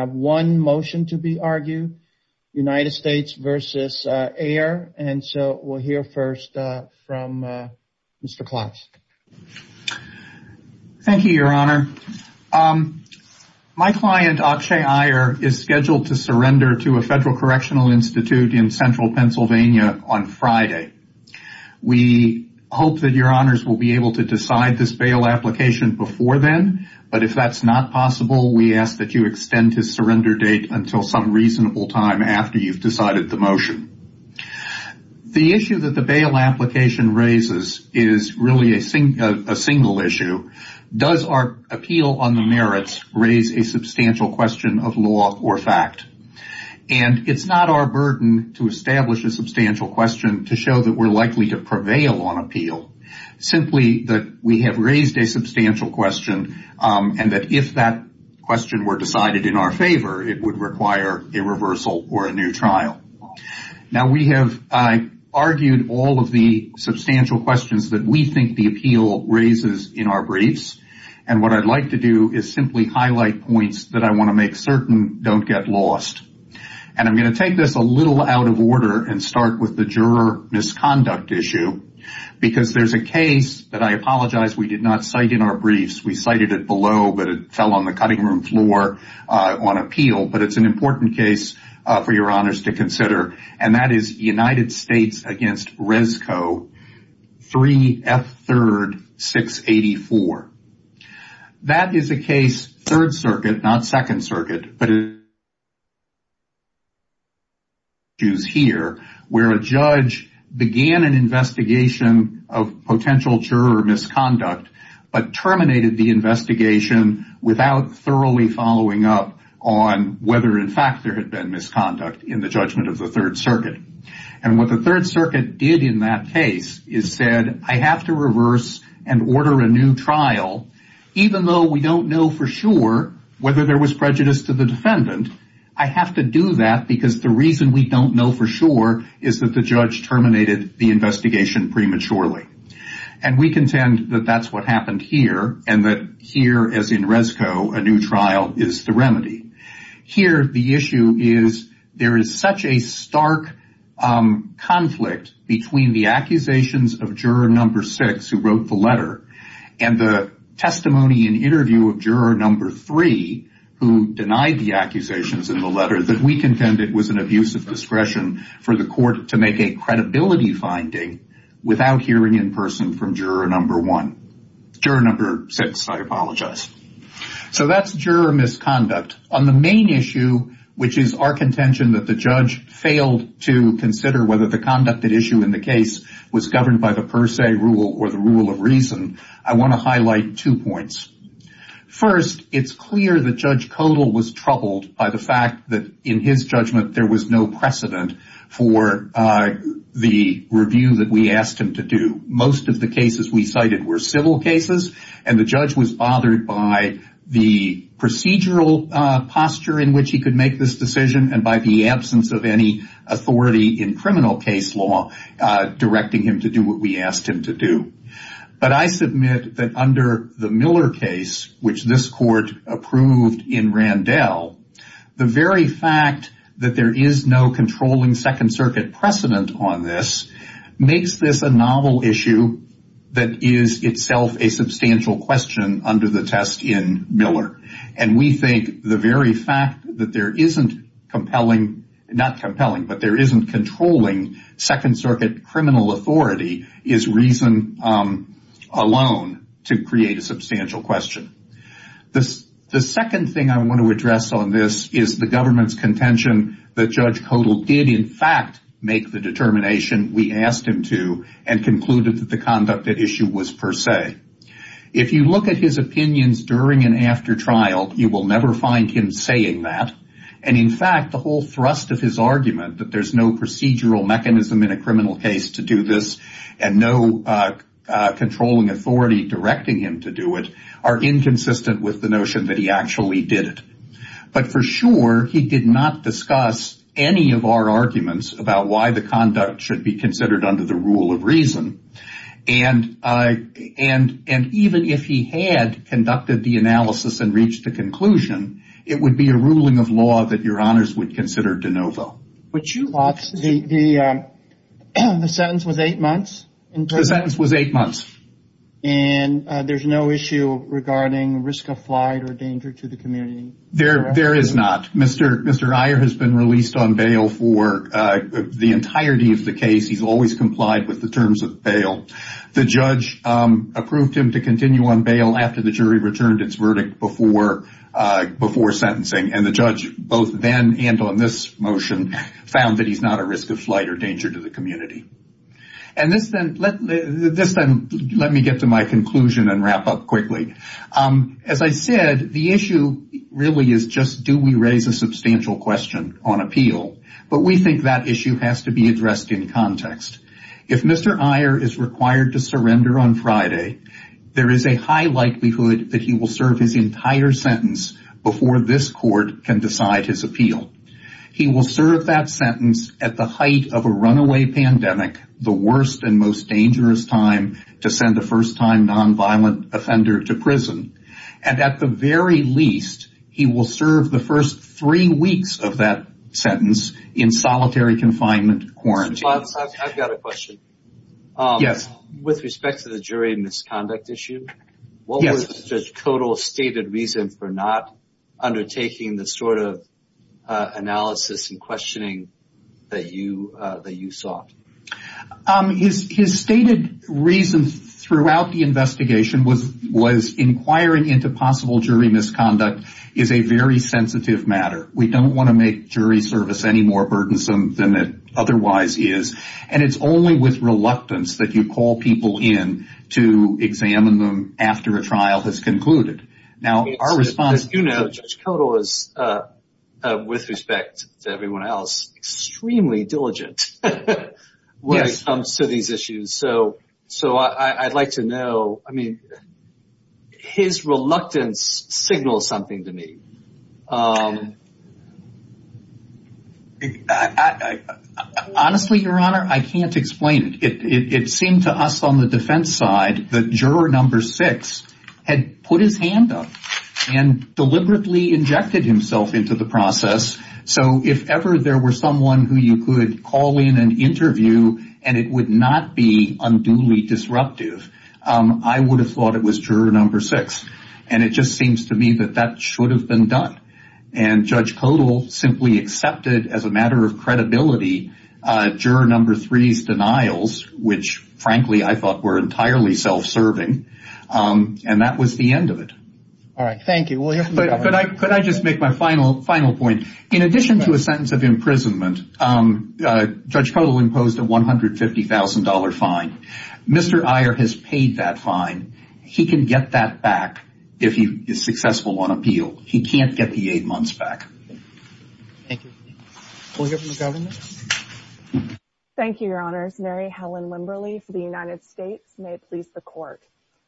We have one motion to be argued, United States v. Aiyer, and so we'll hear first from Mr. Klotz. Thank you, Your Honor. My client, Akshay Aiyer, is scheduled to surrender to a federal correctional institute in central Pennsylvania on Friday. We hope that Your Honors will be able to decide this bail application before then, but if that's not possible, we ask that you extend his surrender date until some reasonable time after you've decided the motion. The issue that the bail application raises is really a single issue. Does our appeal on the merits raise a substantial question of law or fact? And it's not our burden to establish a substantial question to show that we're likely to prevail on appeal, simply that we have raised a substantial question and that if that question were decided in our favor, it would require a reversal or a new trial. Now we have argued all of the substantial questions that we think the appeal raises in our briefs, and what I'd like to do is simply highlight points that I want to make certain don't get lost. And I'm going to take this a little out of order and start with the juror misconduct issue because there's a case that I apologize we did not cite in our briefs. We cited it below, but it fell on the cutting room floor on appeal, but it's an important case for Your Honors to consider, and that is United States v. Rescoe 3F3-684. That is a case, 3rd Circuit, not 2nd Circuit, but issues here where a judge began an investigation of potential juror misconduct, but terminated the investigation without thoroughly following up on whether in fact there had been misconduct in the judgment of the 3rd Circuit. And what the 3rd Circuit did in that case is said, I have to reverse and order a new trial even though we don't know for sure whether there was prejudice to the defendant, I have to do that because the reason we don't know for sure is that the judge terminated the investigation prematurely. And we contend that that's what happened here, and that here as in Rescoe, a new trial is the remedy. Here the issue is there is such a stark conflict between the accusations of juror number six who wrote the letter and the testimony and interview of juror number three who denied the accusations in the letter that we contend it was an abuse of discretion for the court to make a credibility finding without hearing in person from juror number one. Juror number six, I apologize. So that's juror misconduct. On the main issue, which is our contention that the judge failed to consider whether the conducted issue in the case was governed by the per se rule or the rule of reason, I want to highlight two points. First, it's clear that Judge Kodal was troubled by the fact that in his judgment there was no precedent for the review that we asked him to do. Most of the cases we cited were civil cases, and the judge was bothered by the procedural posture in which he could make this decision and by the absence of any authority in criminal case law directing him to do what we asked him to do. But I submit that under the Miller case, which this court approved in Randell, the very fact that there is no controlling Second Circuit precedent on this makes this a novel issue that is itself a substantial question under the test in Miller. And we think the very fact that there isn't compelling, not compelling, but there isn't controlling Second Circuit criminal authority is reason alone to create a substantial question. The second thing I want to address on this is the government's contention that Judge Kodal did in fact make the determination we asked him to and concluded that the conducted issue was per se. If you look at his opinions during and after trial, you will never find him saying that. And in fact, the whole thrust of his argument that there's no procedural mechanism in a inconsistent with the notion that he actually did it. But for sure, he did not discuss any of our arguments about why the conduct should be considered under the rule of reason. And even if he had conducted the analysis and reached the conclusion, it would be a ruling of law that your honors would consider de novo. The sentence was eight months? The sentence was eight months. And there's no issue regarding risk of flight or danger to the community? There is not. Mr. Iyer has been released on bail for the entirety of the case. He's always complied with the terms of bail. The judge approved him to continue on bail after the jury returned its verdict before sentencing and the judge, both then and on this motion, found that he's not a risk of flight or danger to the community. And this then, let me get to my conclusion and wrap up quickly. As I said, the issue really is just do we raise a substantial question on appeal? But we think that issue has to be addressed in context. If Mr. Iyer is required to surrender on Friday, there is a high likelihood that he will serve his entire sentence before this court can decide his appeal. He will serve that sentence at the height of a runaway pandemic, the worst and most dangerous time to send a first-time nonviolent offender to prison. And at the very least, he will serve the first three weeks of that sentence in solitary confinement quarantine. I've got a question. Yes. With respect to the jury misconduct issue, what was the total stated reason for not undertaking the sort of analysis and questioning that you sought? His stated reason throughout the investigation was inquiring into possible jury misconduct is a very sensitive matter. We don't want to make jury service any more burdensome than it otherwise is. And it's only with reluctance that you call people in to examine them after a trial has concluded. Now, our response... As you know, Judge Koto is, with respect to everyone else, extremely diligent when it comes to these issues. So I'd like to know, I mean, his reluctance signals something to me. Honestly, Your Honor, I can't explain it. It seemed to us on the defense side that juror number six had put his hand up and deliberately injected himself into the process. So if ever there were someone who you could call in and interview, and it would not be unduly disruptive, I would have thought it was juror number six. And it just seems to me that that should have been done. And Judge Koto simply accepted, as a matter of credibility, juror number three's denials, which frankly I thought were entirely self-serving. And that was the end of it. All right. Thank you. But could I just make my final point? In addition to a sentence of imprisonment, Judge Koto imposed a $150,000 fine. Mr. Iyer has paid that fine. He can get that back if he is successful on appeal. He can't get the eight months back. Thank you. We'll hear from the governor. Thank you, Your Honors. Mary Helen Limberley for the United States. May it please the Court.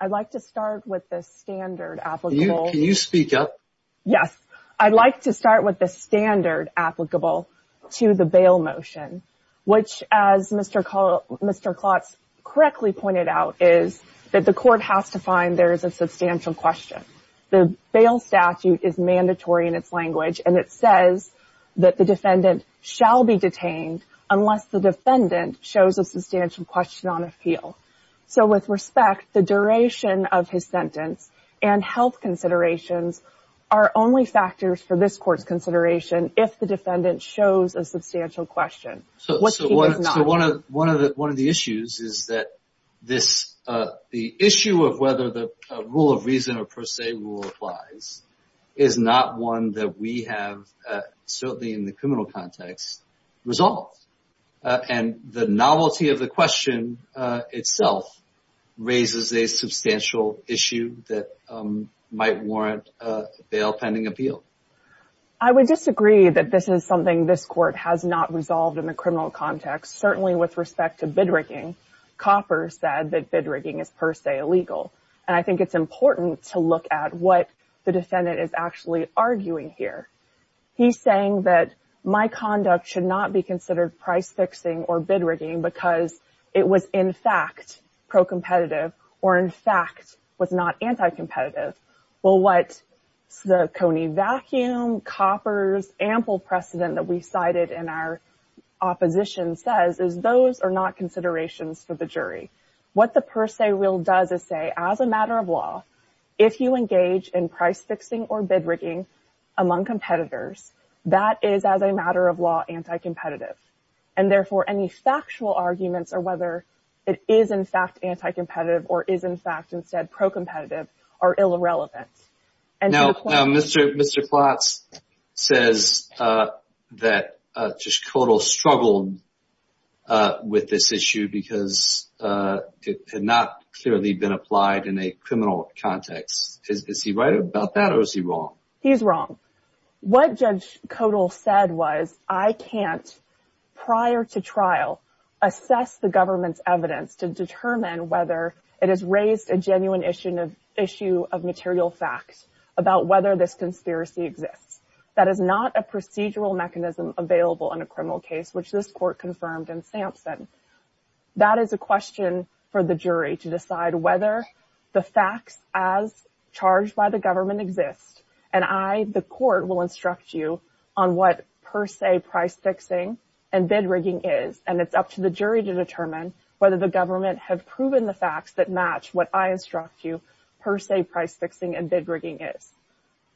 I'd like to start with the standard applicable. Can you speak up? Yes. I'd like to start with the standard applicable to the bail motion, which, as Mr. Klotz correctly pointed out, is that the Court has to find there is a substantial question. The bail statute is mandatory in its language, and it says that the defendant shall be detained unless the defendant shows a substantial question on appeal. So with respect, the duration of his sentence and health considerations are only factors for this Court's consideration if the defendant shows a substantial question, which he does not. One of the issues is that the issue of whether the rule of reason or per se rule applies is not one that we have, certainly in the criminal context, resolved. And the novelty of the question itself raises a substantial issue that might warrant a bail pending appeal. I would disagree that this is something this Court has not resolved in the criminal context. Certainly, with respect to bid rigging, Copper said that bid rigging is per se illegal, and I think it's important to look at what the defendant is actually arguing here. He's saying that my conduct should not be considered price fixing or bid rigging because it was in fact pro-competitive or in fact was not anti-competitive. Well, what the Coney vacuum, Copper's ample precedent that we cited in our opposition says is those are not considerations for the jury. What the per se rule does is say, as a matter of law, if you engage in price fixing or bid rigging among competitors, that is, as a matter of law, anti-competitive. And therefore, any factual arguments or whether it is in fact anti-competitive or is in fact instead pro-competitive are ill-relevant. Now Mr. Klotz says that Judge Kodal struggled with this issue because it had not clearly been applied in a criminal context. Is he right about that or is he wrong? He's wrong. What Judge Kodal said was, I can't, prior to trial, assess the government's evidence to determine whether it has raised a genuine issue of material facts about whether this conspiracy exists. That is not a procedural mechanism available in a criminal case, which this court confirmed in Sampson. That is a question for the jury to decide whether the facts as charged by the government exist. And I, the court, will instruct you on what per se price fixing and bid rigging is. And it's up to the jury to determine whether the government have proven the facts that match what I instruct you per se price fixing and bid rigging is.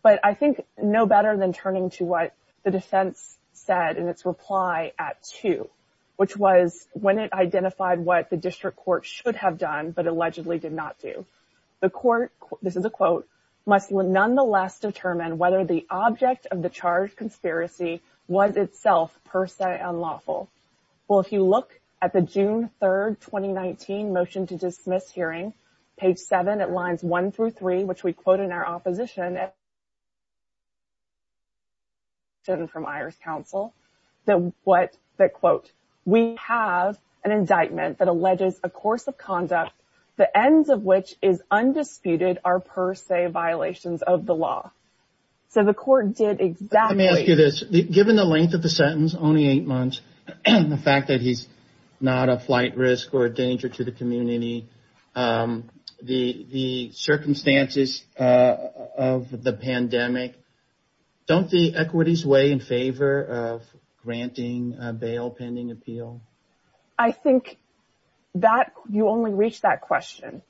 But I think no better than turning to what the defense said in its reply at 2, which was when it identified what the district court should have done but allegedly did not do. The court, this is a quote, must nonetheless determine whether the object of the charged conspiracy was itself per se unlawful. Well, if you look at the June 3, 2019, motion to dismiss hearing, page 7, at lines 1 through 3, which we quote in our opposition from IHRS counsel, that quote, we have an indictment that alleges a course of conduct, the ends of which is undisputed, are per se violations of the law. So the court did exactly this. Given the length of the sentence, only eight months, the fact that he's not a flight risk or a danger to the community, the circumstances of the pandemic, don't the equities weigh in favor of granting a bail pending appeal? I think that you only reach that question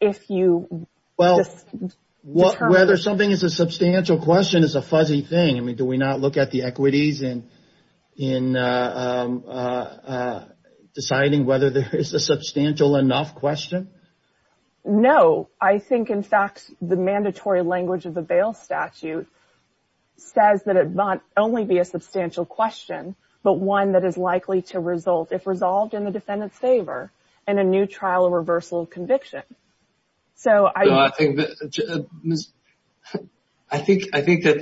if you just determine. Whether something is a substantial question is a fuzzy thing. I mean, do we not look at the equities and in deciding whether there is a substantial enough question? No, I think, in fact, the mandatory language of the bail statute says that it might only be a substantial question, but one that is likely to result, if resolved in the defendant's favor, in a new trial or reversal of conviction. So I think that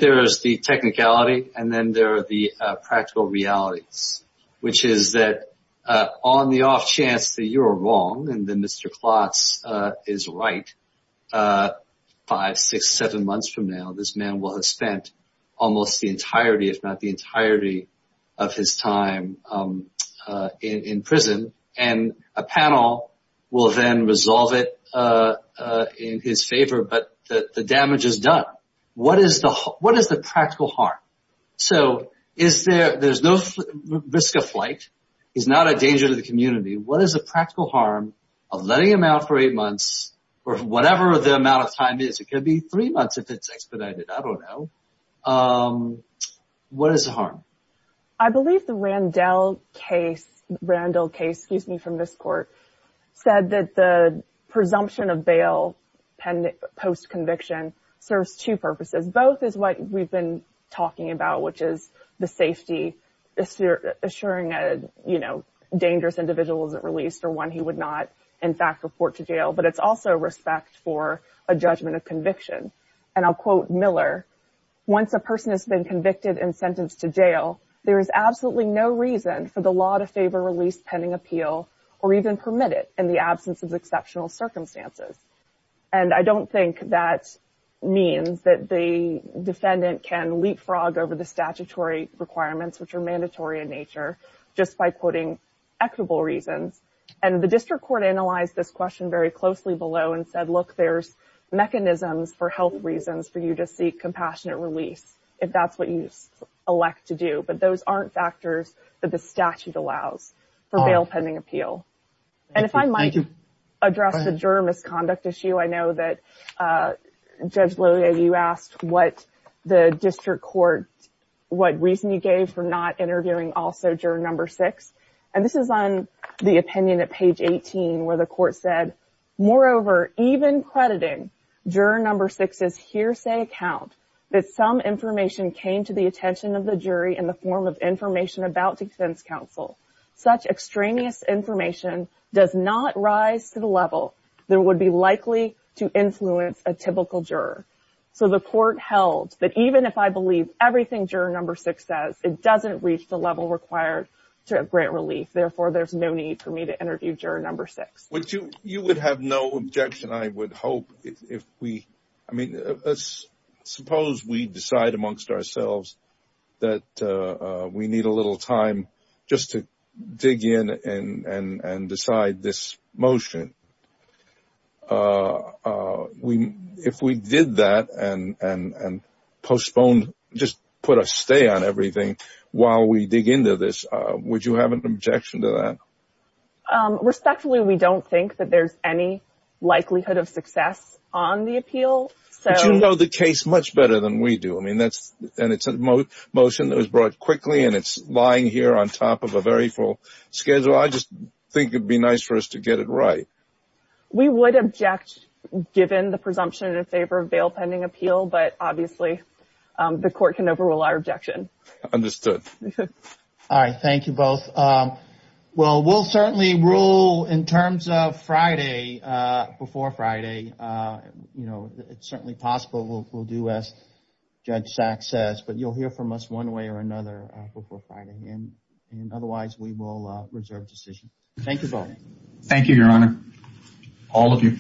there is the technicality and then there are the practical realities, which is that on the off chance that you're wrong and that Mr. Klotz is right, five, six, seven months from now, this man will have spent almost the entirety, if not the entirety, of his time in prison and a panel will then resolve it in his favor, but the damage is done. What is the practical harm? So there's no risk of flight, he's not a danger to the community. What is the practical harm of letting him out for eight months or whatever the amount of time is? It could be three months if it's expedited, I don't know. What is the harm? I believe the Randall case, excuse me, from this court, said that the presumption of bail post-conviction serves two purposes. Both is what we've been talking about, which is the safety, assuring a, you know, dangerous individual isn't released or one he would not, in fact, report to jail, but it's also respect for a judgment of conviction. And I'll quote Miller, once a person has been convicted and sentenced to jail, there is absolutely no reason for the law to favor release pending appeal or even permit it in the absence of exceptional circumstances. And I don't think that means that the defendant can leapfrog over the statutory requirements, which are mandatory in nature, just by quoting equitable reasons. And the district court analyzed this question very closely below and said, look, there's mechanisms for health reasons for you to seek compassionate release, if that's what you elect to do. But those aren't factors that the statute allows for bail pending appeal. And if I might address the juror misconduct issue, I know that Judge Lillie, you asked what the district court, what reason you gave for not interviewing also juror number six. And this is on the opinion at page 18 where the court said, moreover, even crediting juror number six's hearsay account that some information came to the attention of the jury in the form of information about defense counsel. Such extraneous information does not rise to the level that would be likely to influence a typical juror. So the court held that even if I believe everything juror number six says, it doesn't reach the required to grant relief. Therefore, there's no need for me to interview juror number six. Which you would have no objection, I would hope if we I mean, let's suppose we decide amongst ourselves that we need a little time just to dig in and decide this motion. And if we did that and postponed, just put a stay on everything while we dig into this, would you have an objection to that? Respectfully, we don't think that there's any likelihood of success on the appeal. But you know the case much better than we do. I mean, that's and it's a motion that was brought quickly and it's lying here on top of a very full schedule. So I just think it'd be nice for us to get it right. We would object given the presumption in favor of bail pending appeal. But obviously, the court can overrule our objection. Understood. All right. Thank you both. Well, we'll certainly rule in terms of Friday, before Friday. You know, it's certainly possible we'll do as Judge Saks says, but you'll hear from us one way or another before Friday and otherwise we will reserve decision. Thank you both. Thank you, Your Honor. All of you.